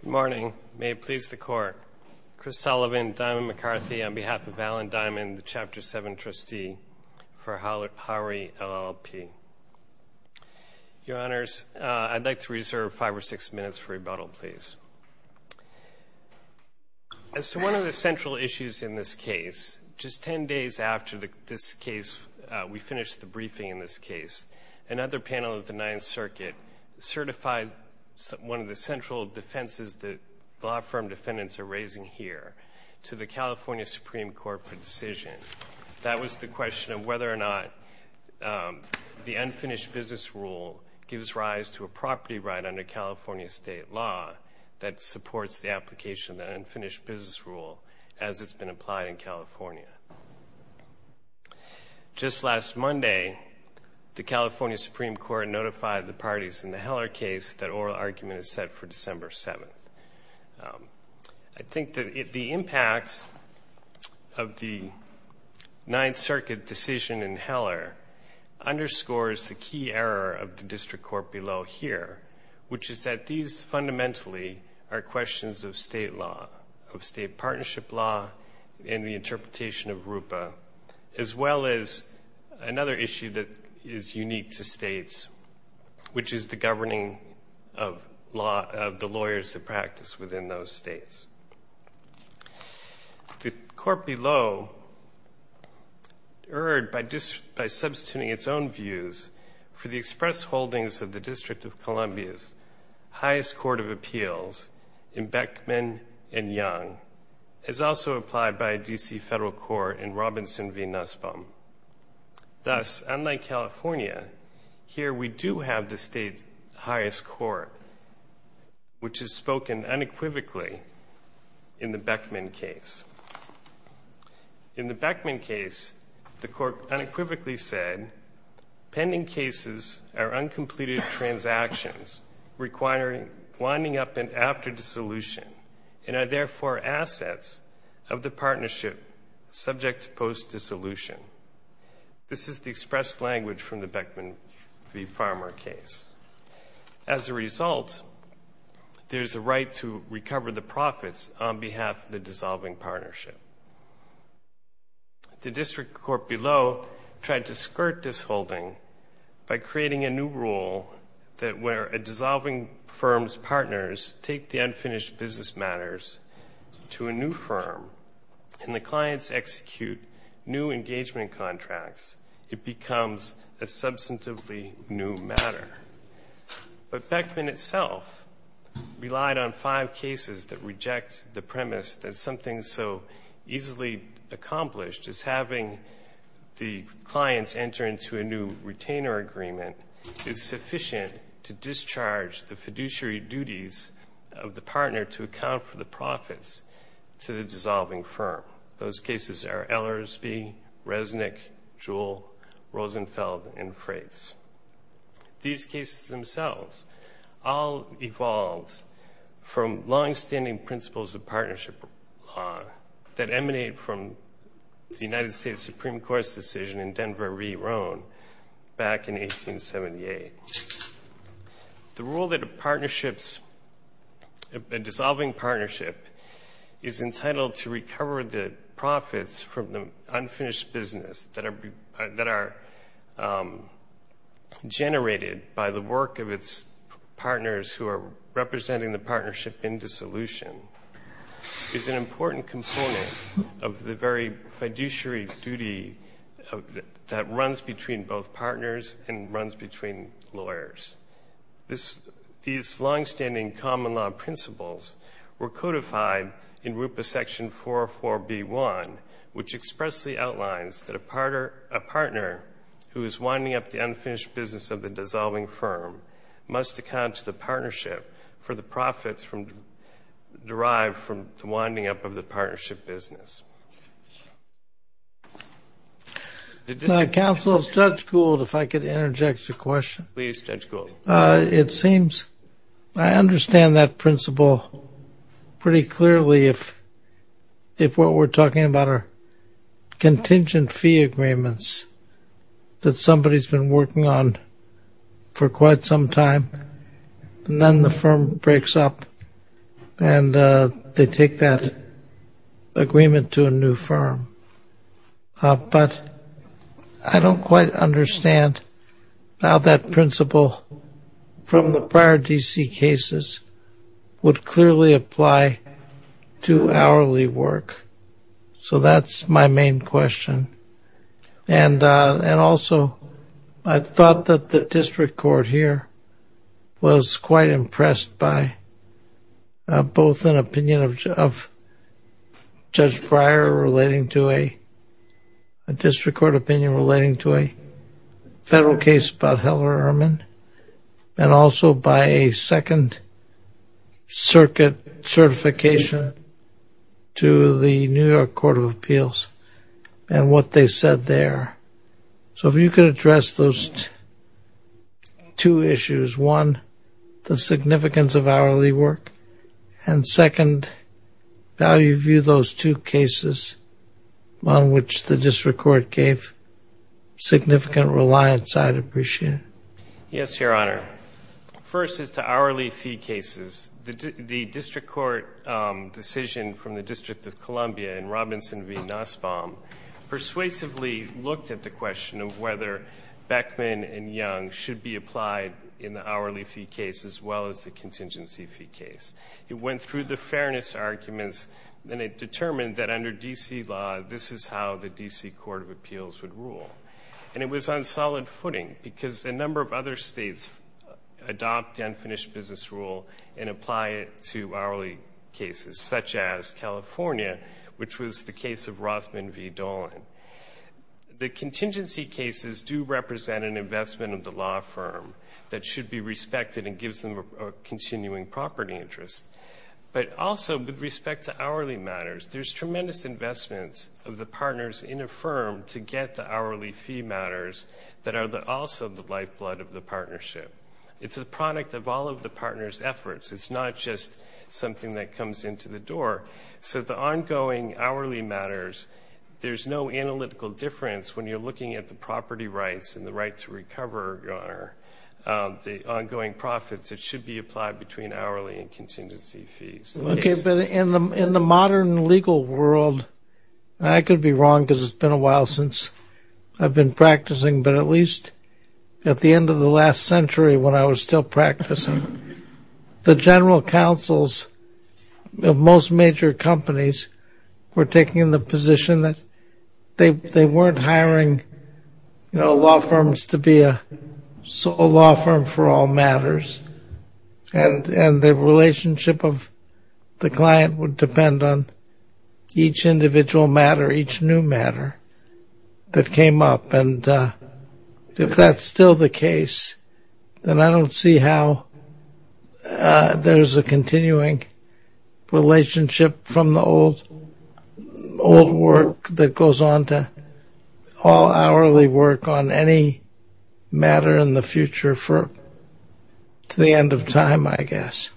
Good morning. May it please the Court, Chris Sullivan, Diamond McCarthy, on behalf of Alan Diamond, the Chapter 7 trustee for Howard LLP. Your Honors, I'd like to reserve five or six minutes for rebuttal, please. As one of the central issues in this case, just ten days after this case, we finished the briefing in this case, another panel of the Ninth Circuit certified one of the central defenses that law firm defendants are raising here to the California Supreme Court for decision. That was the question of whether or not the unfinished business rule gives rise to a property right under California state law that supports the application of the unfinished business rule as it's been applied in California. Just last Monday, the California Supreme Court notified the parties in the Heller case that oral argument is set for December 7th. I think that the impacts of the Ninth Circuit decision in Heller underscores the key error of the district court below here, which is that these fundamentally are questions of state law, of state partnership law, and the interpretation of RUPA, as well as another issue that is unique to states, which is the governing of the lawyers that practice within those states. The court below erred by substituting its own views for the express holdings of the District of Columbia's highest court of appeals in Beckman and Young, as also applied by a D.C. federal court in Robinson v. Nussbaum. Thus, unlike California, here we do have the state's highest court, which is spoken unequivocally in the Beckman case. In the Beckman case, the court unequivocally said, pending cases are uncompleted transactions winding up after dissolution and are therefore assets of the partnership subject to post-dissolution. This is the expressed language from the Beckman v. Farmer case. As a result, there is a right to recover the profits on behalf of the dissolving partnership. The district court below tried to skirt this holding by creating a new rule that where a dissolving firm's partners take the unfinished business matters to a new firm and the clients execute new engagement contracts, it becomes a substantively new matter. But Beckman itself relied on five cases that reject the premise that something so easily accomplished as having the clients enter into a new retainer agreement is sufficient to discharge the fiduciary duties of the partner to account for the profits to the dissolving firm. Those cases are Ellersbee, Resnick, Jewell, Rosenfeld, and Frates. These cases themselves all evolved from longstanding principles of partnership that emanate from the United States Supreme Court's decision in Denver v. Roan back in 1878. The rule that a dissolving partnership is entitled to recover the profits from the unfinished business that are generated by the work of its partners who are representing the partnership in dissolution is an important component of the very fiduciary duty that runs between both partners and runs between lawyers. These longstanding common law principles were codified in RUPA section 404b1, which expressly outlines that a partner who is winding up the unfinished business of the dissolving firm must account to the partnership for the profits derived from the winding up of the partnership business. Now, Counsel, Judge Gould, if I could interject a question. Please, Judge Gould. It seems I understand that principle pretty clearly if what we're talking about are contingent fee agreements that somebody's been working on for quite some time and then the firm breaks up and they take that agreement to a new firm. But I don't quite understand how that principle from the prior DC cases would clearly apply to hourly work. So that's my main question. And also, I thought that the district court here was quite impressed by both an opinion of Judge Breyer relating to a district court opinion relating to a federal case about Heller-Ehrman and also by a Second Circuit certification to the New York Court of Appeals and what they said there. So if you could address those two issues, one, the significance of hourly work, and second, how you view those two cases on which the district court gave significant reliance, I'd appreciate it. Yes, Your Honor. First is to hourly fee cases. The district court decision from the District of Columbia and Robinson v. Nussbaum persuasively looked at the question of whether Beckman and Young should be applied in the hourly fee case as well as the contingency fee case. It went through the fairness arguments and it determined that under DC law, this is how the DC Court of Appeals would rule. And it was on solid footing because a number of other states adopt the unfinished business rule and apply it to hourly cases, such as California, which was the case of do represent an investment of the law firm that should be respected and gives them a continuing property interest. But also with respect to hourly matters, there's tremendous investments of the partners in a firm to get the hourly fee matters that are also the lifeblood of the partnership. It's a product of all of the partners' efforts. It's not just something that comes into the door. So the rights and the right to recover, Your Honor, the ongoing profits, it should be applied between hourly and contingency fees. Okay, but in the modern legal world, I could be wrong because it's been a while since I've been practicing, but at least at the end of the last century when I was still practicing, the general counsels of most major companies were taking the position that they weren't hiring, you know, law firms to be a law firm for all matters. And the relationship of the client would depend on each individual matter, each new matter that came up. And if that's still the case, then I don't see how there's a any matter in the future to the end of time, I guess.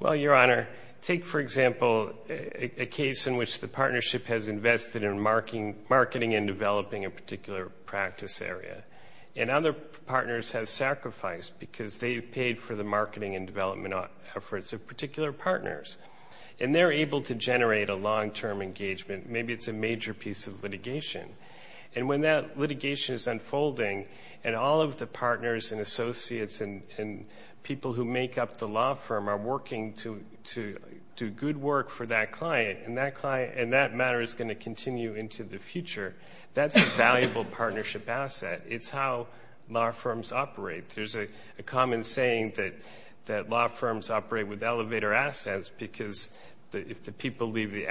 Well, Your Honor, take, for example, a case in which the partnership has invested in marketing and developing a particular practice area. And other partners have sacrificed because they've paid for the marketing and development efforts of particular partners. And they're able to generate a long-term engagement. Maybe it's a major piece of litigation. And when that litigation is unfolding and all of the partners and associates and people who make up the law firm are working to do good work for that client, and that matter is going to continue into the future, that's a valuable partnership asset. It's how law firms operate. There's a common saying that law firms operate with elevator assets because if the people leave, the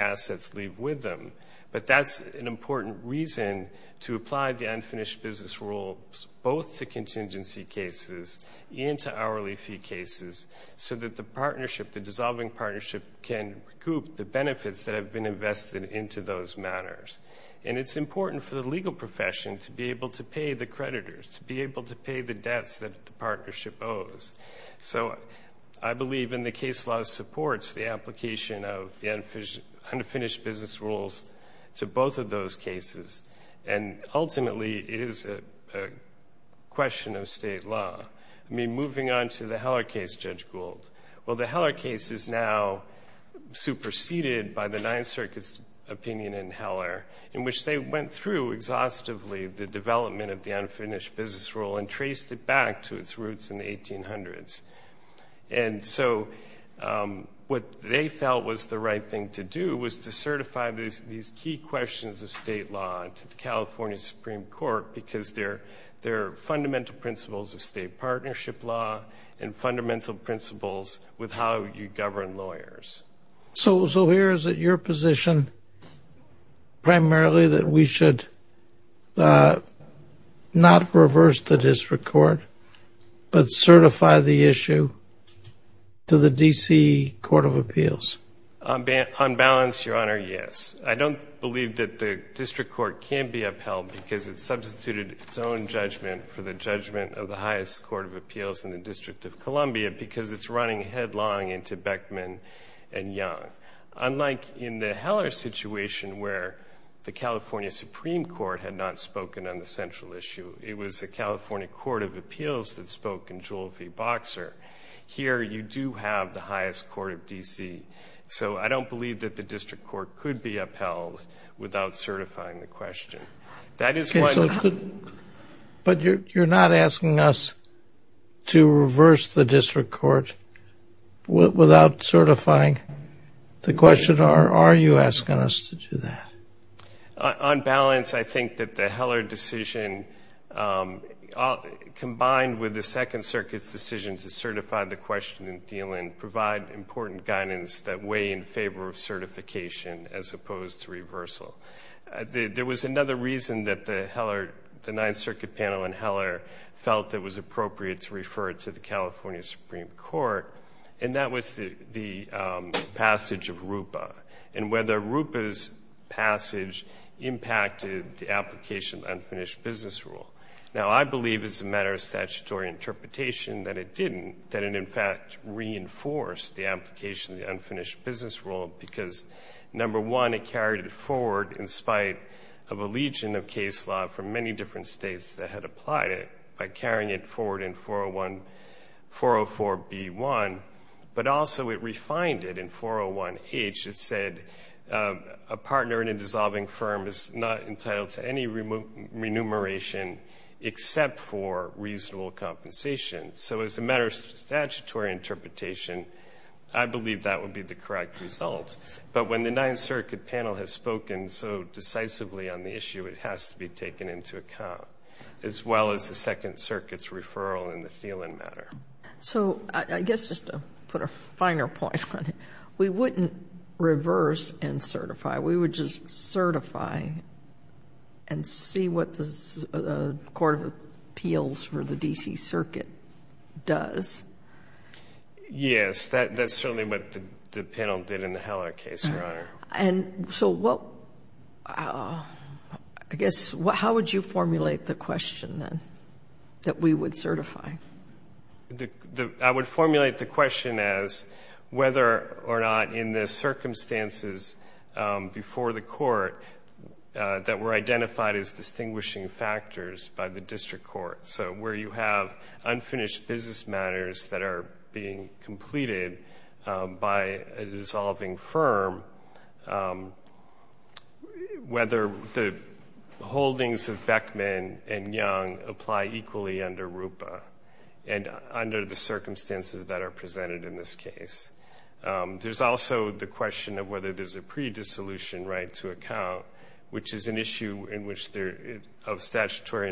both to contingency cases and to hourly fee cases so that the partnership, the dissolving partnership can recoup the benefits that have been invested into those matters. And it's important for the legal profession to be able to pay the creditors, to be able to pay the debts that the partnership owes. So I believe in the case law supports the application of the unfinished business rules to both of those cases. And ultimately, it is a question of state law. I mean, moving on to the Heller case, Judge Gould. Well, the Heller case is now superseded by the Ninth Circuit's opinion in Heller in which they went through exhaustively the development of the unfinished business rule and traced it back to its roots in the 1800s. And so what they felt was the right thing to do was to certify these key questions of state law to the California Supreme Court because they're fundamental principles of state partnership law and fundamental principles with how you govern lawyers. So here is it your position primarily that we should not reverse the district court but certify the issue to the D.C. Court of Appeals? On balance, Your Honor, yes. I don't believe that the district court can be upheld because it substituted its own judgment for the judgment of the highest court of appeals in the District of Columbia because it's running headlong into Beckman and Young. Unlike in the Heller situation where the California Supreme Court had not spoken on the central issue, it was the California Court of Appeals that spoke in favor of the highest court of D.C. So I don't believe that the district court could be upheld without certifying the question. That is why... But you're not asking us to reverse the district court without certifying the question? Or are you asking us to do that? On balance, I think that the Heller decision combined with the Second Circuit's decision to certify the question in Thielen provide important guidance that weigh in favor of certification as opposed to reversal. There was another reason that the Heller, the Ninth Circuit panel in Heller felt it was impacted the application of the Unfinished Business Rule. Now, I believe as a matter of statutory interpretation that it didn't, that it, in fact, reinforced the application of the Unfinished Business Rule because, number one, it carried it forward in spite of a legion of case law from many different states that had applied it by carrying it forward in 401, 404B1, but also it refined it in 401H. It said a partner in a dissolving firm is not entitled to any remuneration except for reasonable compensation. So as a matter of statutory interpretation, I believe that would be the correct result. But when the Ninth Circuit panel has spoken so decisively on the issue, it has to be taken into account, as well as the Second Circuit's referral in the Thielen matter. So I guess just to put a finer point on it, we wouldn't reverse and certify. We would just certify and see what the Court of Appeals for the D.C. Circuit does. Yes, that's certainly what the panel did in the Heller case, Your Honor. And so what, I guess, how would you formulate the question then that we would certify? I would formulate the question as whether or not in the circumstances before the court that were identified as distinguishing factors by the district court, so where you have unfinished business matters that are being completed by a dissolving firm, whether the holdings of Beckman and Young apply equally under RUPA and under the circumstances that are presented in this case. There's also the question of whether there's a pre-dissolution right to account, which is an issue of statutory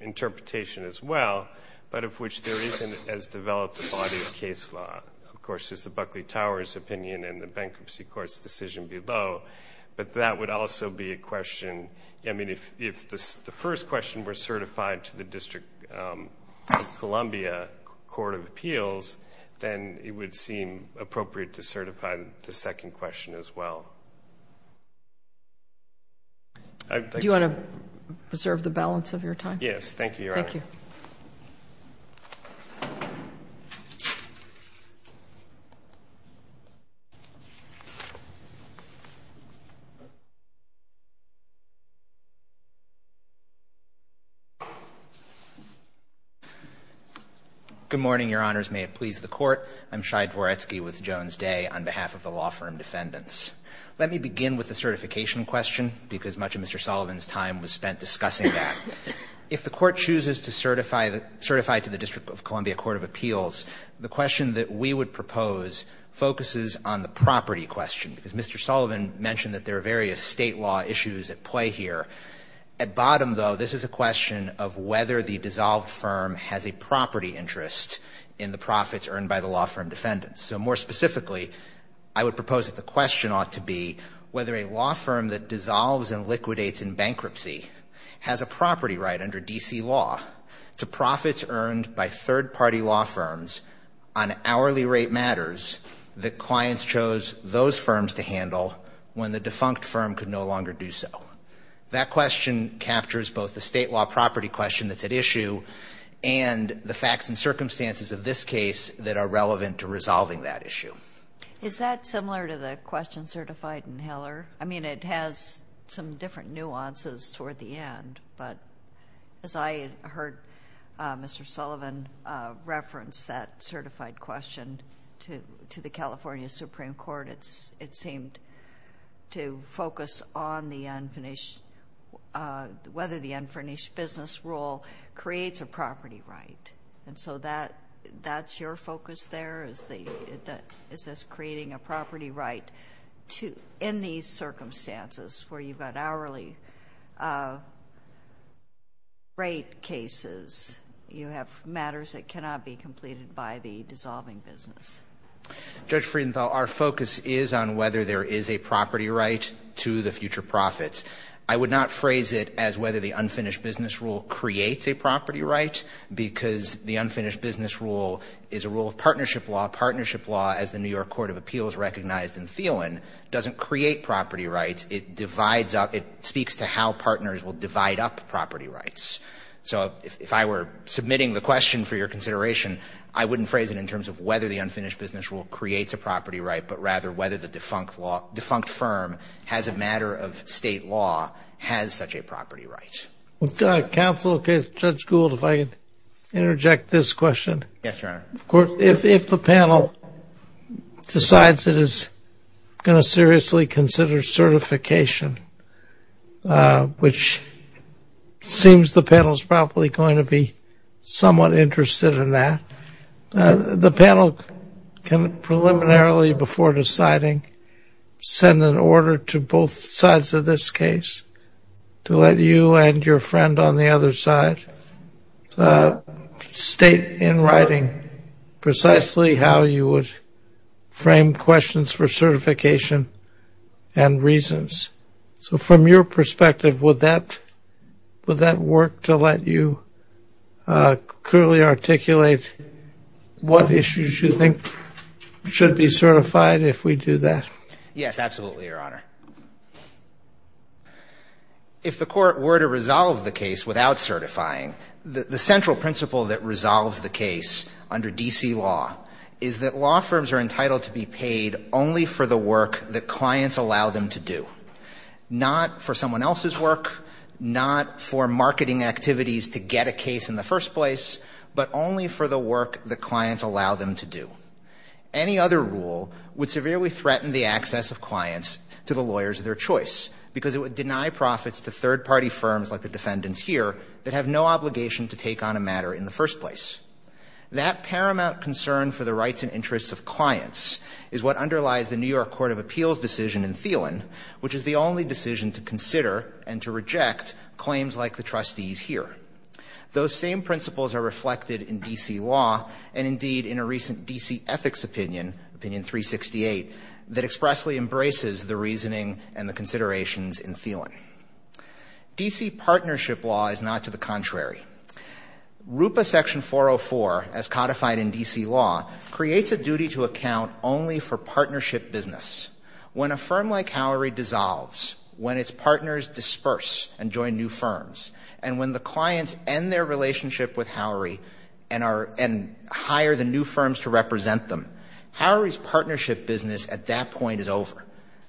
interpretation, as well, but of which there isn't as developed a body of case law. Of course, there's the Buckley-Towers opinion and the Bankruptcy Court's decision below, but that would also be a question. I mean, if the first question were certified to the District of Columbia Court of Appeals, then it would seem appropriate to certify the second question as well. Do you want to preserve the balance of your time? Yes, thank you, Your Honor. Thank you. Good morning, Your Honors. May it please the Court. I'm Shai Dvoretsky with Jones Day on behalf of the law firm Defendants. Let me begin with the certification question, because much of Mr. Sullivan's time was spent discussing that. If the Court chooses to certify the – certify to the District of Columbia Court of Appeals, the question that we would propose focuses on the property question, because Mr. Sullivan mentioned that there are various State law issues at play here. At bottom, though, this is a question of whether the dissolved firm has a property interest in the profits earned by the law firm Defendants. So more specifically, I would propose that the question ought to be whether a law firm that dissolves and liquidates in bankruptcy has a property right under D.C. law to profits earned by third-party law firms on hourly rate matters that clients chose those firms to handle when the defunct firm could no longer do so. That question captures both the State law property question that's at issue and the facts and circumstances of this case that are relevant to resolving that issue. Is that similar to the question certified in Heller? I mean, it has some different nuances toward the end, but as I heard Mr. Sullivan reference that certified question to the California Supreme Court, it seemed to focus on the unfinished – whether the unfinished business rule creates a property right. And so that's your focus there? Is this creating a property right in these circumstances where you've got hourly rate cases? You have matters that cannot be completed by the dissolving business. Judge Friedenthal, our focus is on whether there is a property right to the future profits. I would not phrase it as whether the unfinished business rule creates a property right because the unfinished business rule is a rule of partnership law. Partnership law, as the New York Court of Appeals recognized in Thielen, doesn't create property rights. It divides up – it speaks to how partners will divide up property rights. So if I were submitting the question for your consideration, I wouldn't phrase it in terms of whether the unfinished business rule creates a property right, but rather whether the defunct law – defunct firm has a matter of State law has such a property right. Counsel, Judge Gould, if I could interject this question. Yes, Your Honor. If the panel decides it is going to seriously consider certification, which seems the panel is probably going to be somewhat interested in that, the panel can preliminarily, before deciding, send an order to both sides of this case to let you and your friend on the other side state in writing precisely how you would frame questions for certification and reasons. So from your perspective, would that work to let you clearly articulate what issues you think should be certified if we do that? Yes, absolutely, Your Honor. If the Court were to resolve the case without certifying, the central principle that resolves the case under D.C. law is that law firms are entitled to be paid only for the work that clients allow them to do, not for someone else's work, not for marketing activities to get a case in the first place, but only for the work that clients allow them to do. Any other rule would severely threaten the access of clients to the lawyers of their choice because it would deny profits to third-party firms like the defendants here that have no obligation to take on a matter in the first place. That paramount concern for the rights and interests of clients is what underlies the New York Court of Appeals decision in Thielen, which is the only decision to consider and to reject claims like the trustees here. Those same principles are reflected in D.C. law and indeed in a recent D.C. ethics opinion, Opinion 368, that expressly embraces the reasoning and the considerations in Thielen. D.C. partnership law is not to the contrary. RUPA Section 404, as codified in D.C. law, creates a duty to account only for partnership business. When a firm like Howery dissolves, when its partners disperse and join new firms, and when the clients end their relationship with Howery and hire the new firms to represent them, Howery's partnership business at that point is over.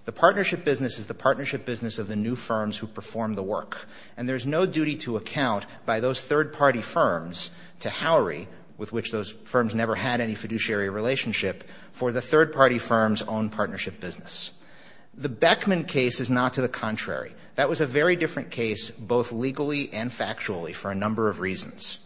The partnership business is the partnership business of the new firms who perform the work, and there's no duty to account by those third-party firms to Howery, with which those firms never had any fiduciary relationship, for the third-party firm's own partnership business. The Beckman case is not to the contrary. That was a very different case both legally and factually for a number of reasons.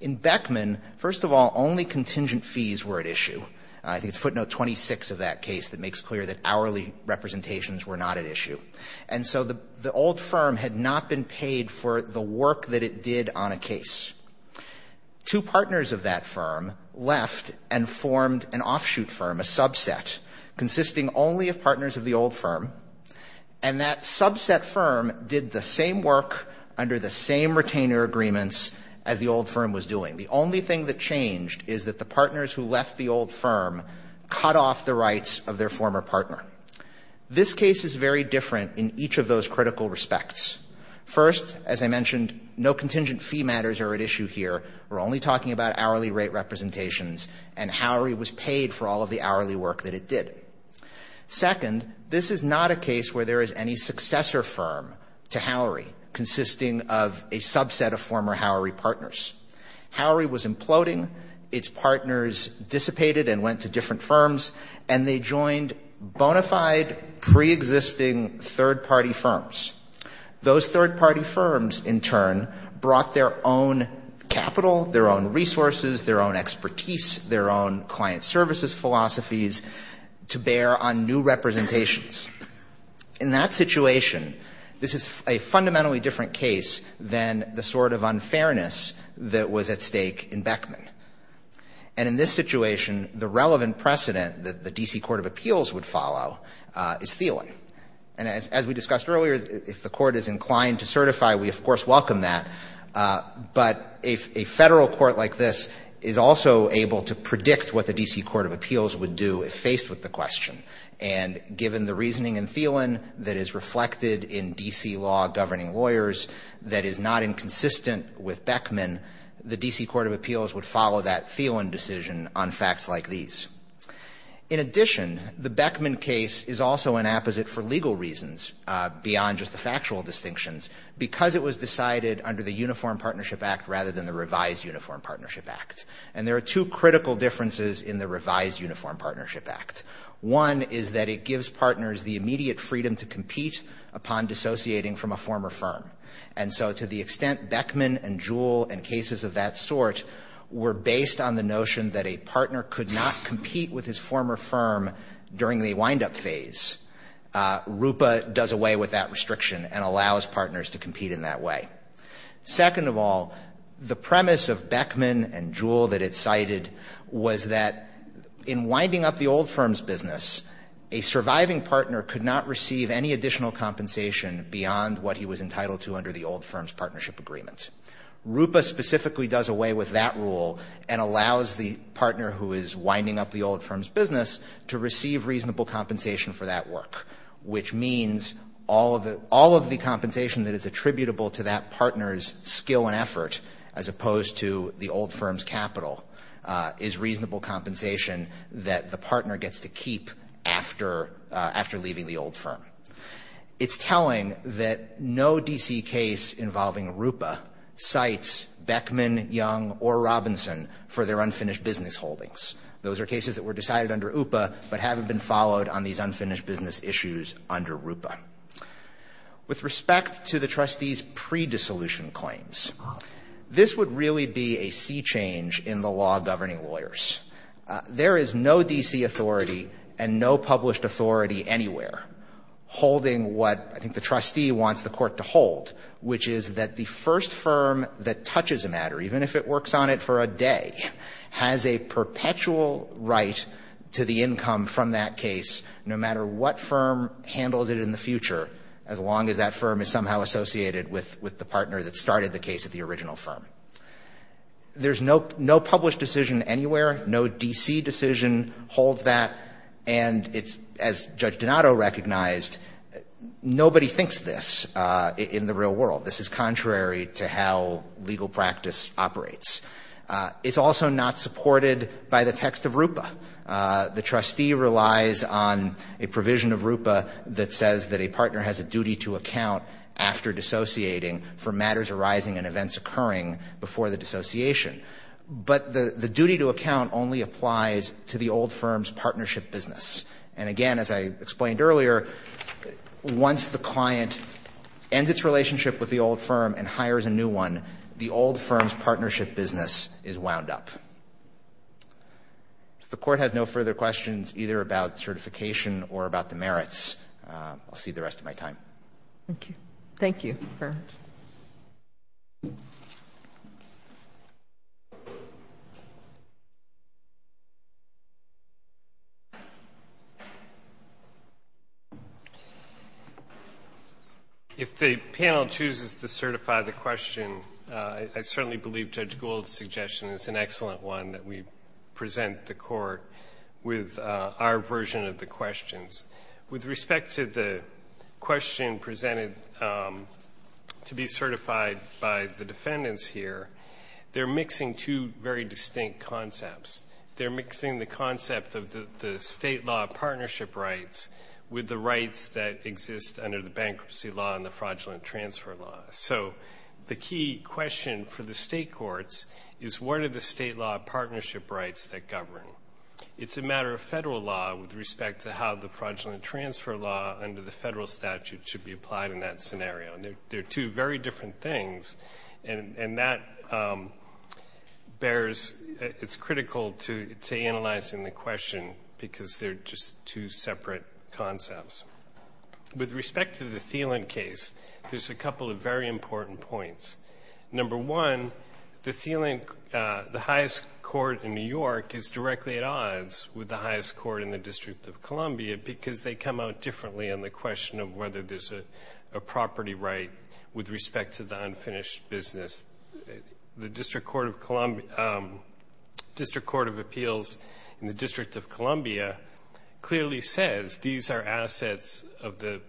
In Beckman, first of all, only contingent fees were at issue. I think it's footnote 26 of that case that makes clear that hourly representations were not at issue. And so the old firm had not been paid for the work that it did on a case. Two partners of that firm left and formed an offshoot firm, a subset consisting only of partners of the old firm, and that subset firm did the same work under the same retainer agreements as the old firm was doing. The only thing that changed is that the partners who left the old firm cut off the rights of their former partner. This case is very different in each of those critical respects. First, as I mentioned, no contingent fee matters are at issue here. We're only talking about hourly rate representations and Howery was paid for all of the hourly work that it did. Second, this is not a case where there is any successor firm to Howery consisting of a subset of former Howery partners. Howery was imploding. Its partners dissipated and went to different firms and they joined bona fide preexisting third-party firms. Those third-party firms, in turn, brought their own capital, their own resources, their own expertise, their own client services philosophies to bear on new representations. In that situation, this is a fundamentally different case than the sort of unfairness that was at stake in Beckman. And in this situation, the relevant precedent that the D.C. Court of Appeals would follow is Thielen. And as we discussed earlier, if the court is inclined to certify, we, of course, welcome that. But a Federal court like this is also able to predict what the D.C. Court of Appeals would do if faced with the question. And given the reasoning in Thielen that is reflected in D.C. law governing lawyers that is not inconsistent with Beckman, the D.C. Court of Appeals would follow that Thielen decision on facts like these. In addition, the Beckman case is also an apposite for legal reasons beyond just the factual distinctions because it was decided under the Uniform Partnership Act rather than the Revised Uniform Partnership Act. And there are two critical differences in the Revised Uniform Partnership Act. One is that it gives partners the immediate freedom to compete upon dissociating from a former firm. And so to the extent Beckman and Jewell and cases of that sort were based on the notion that a partner could not compete with his former firm during the wind-up phase, RUPA does away with that restriction and allows partners to compete in that way. Second of all, the premise of Beckman and Jewell that it cited was that in winding up the old firm's business, a surviving partner could not receive any additional compensation beyond what he was entitled to under the old firm's partnership agreement. RUPA specifically does away with that rule and allows the partner who is winding up the old firm's business to receive reasonable compensation for that work, which means all of the compensation that is attributable to that partner's skill and effort as opposed to the old firm's capital is reasonable compensation that the partner gets to keep after leaving the old firm. It's telling that no D.C. case involving RUPA cites Beckman, Young, or Robinson for their unfinished business holdings. Those are cases that were decided under UPA but haven't been followed on these unfinished business issues under RUPA. With respect to the trustee's pre-dissolution claims, this would really be a sea change in the law governing lawyers. There is no D.C. authority and no published authority anywhere holding what I think the trustee wants the court to hold, which is that the first firm that touches a matter, even if it works on it for a day, has a perpetual right to the income from that case no matter what firm handles it in the future, as long as that firm is somehow associated with the partner that started the case at the original firm. There's no published decision anywhere, no D.C. decision holds that, and it's, as Judge Donato recognized, nobody thinks this in the real world. This is contrary to how legal practice operates. It's also not supported by the text of RUPA. The trustee relies on a provision of RUPA that says that a partner has a duty to account after dissociating for matters arising and events occurring before the dissociation. But the duty to account only applies to the old firm's partnership business. And again, as I explained earlier, once the client ends its relationship with the old firm and hires a new one, the old firm's partnership business is wound up. If the court has no further questions either about certification or about the merits, I'll cede the rest of my time. Thank you. Thank you. If the panel chooses to certify the question, I certainly believe Judge Gould's suggestion is an excellent one that we present the Court with our version of the questions. With respect to the question presented to be certified by the defendants here, they're mixing two very distinct concepts. They're mixing the concept of the State law of partnership rights with the rights that exist under the bankruptcy law and the fraudulent transfer law. So the key question for the State courts is what are the State law of partnership rights that govern? It's a matter of Federal law with respect to how the fraudulent transfer law under the Federal statute should be applied in that scenario. They're two very different things, and that bears its critical to analyzing the question because they're just two separate concepts. With respect to the Thielen case, there's a couple of very important points. Number one, the highest court in New York is directly at odds with the highest court in the District of Columbia because they come out differently on the question of whether there's a property right with respect to the unfinished business. The District Court of Appeals in the District of Columbia clearly says these are assets of the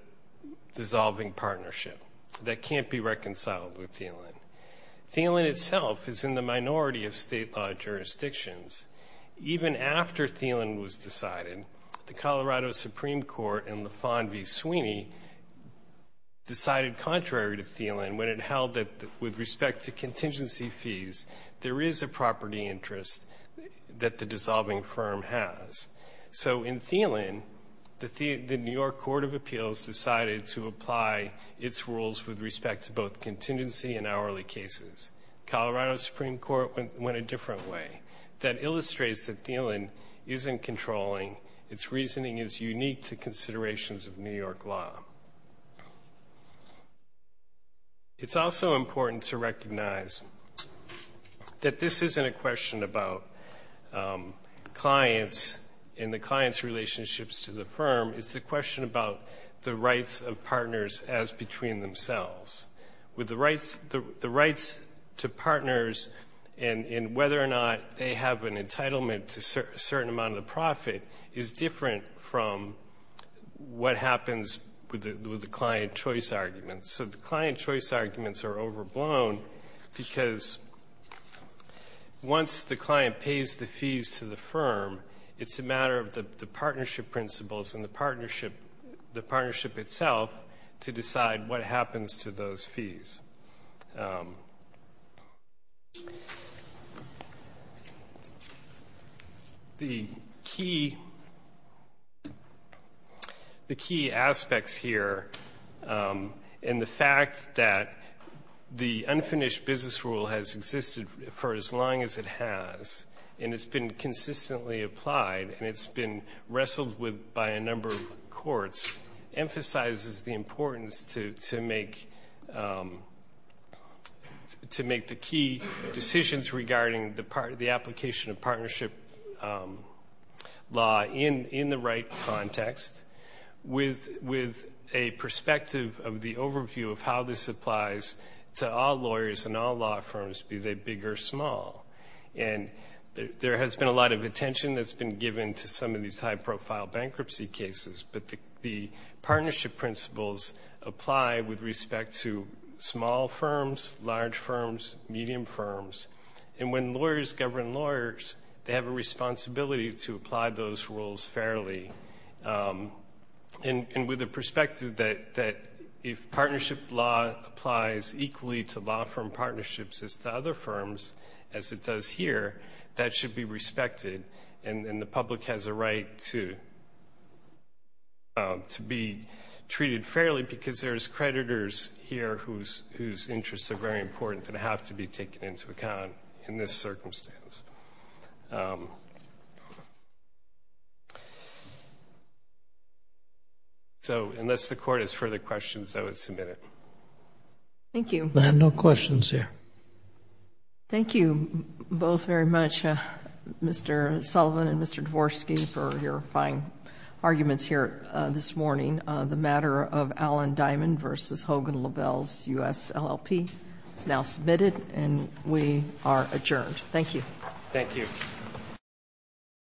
dissolving partnership that can't be reconciled with Thielen. Thielen itself is in the minority of State law jurisdictions. Even after Thielen was decided, the Colorado Supreme Court in Lafon v. Sweeney decided contrary to Thielen when it held that with respect to contingency fees, there is a property interest that the dissolving firm has. So in Thielen, the New York Court of Appeals decided to apply its rules with respect to both contingency and hourly cases. Colorado Supreme Court went a different way. That illustrates that Thielen isn't controlling. Its reasoning is unique to considerations of New York law. It's also important to recognize that this isn't a question about clients and the clients' relationships to the firm. It's a question about the rights of partners as between themselves. The rights to partners and whether or not they have an entitlement to a certain amount of the profit is different from what happens with the client choice arguments. So the client choice arguments are overblown because once the client pays the fees to the firm, it's a matter of the partnership principles and the partnership itself to decide what happens to those fees. The key aspects here and the fact that the unfinished business rule has existed for as long as it has and it's been consistently applied and it's been wrestled with by a number of courts emphasizes the importance to make the key decisions regarding the application of partnership law in the right context with a perspective of the overview of how this applies to all lawyers and all law firms, be they big or small. And there has been a lot of attention that's been given to some of these high-profile bankruptcy cases, but the partnership principles apply with respect to small firms, large firms, medium firms. And when lawyers govern lawyers, they have a responsibility to apply those rules fairly. And with the perspective that if partnership law applies equally to law firm partnerships as to other firms, as it does here, that should be respected and the public has a right to be treated fairly because there's creditors here whose interests are very important that have to be taken into account in this circumstance. So unless the Court has further questions, I would submit it. Thank you. I have no questions here. Thank you both very much, Mr. Sullivan and Mr. Dvorsky, for your fine arguments here this morning. The matter of Alan Diamond v. Hogan LaBelle's US LLP is now submitted and we are adjourned. Thank you. Thank you.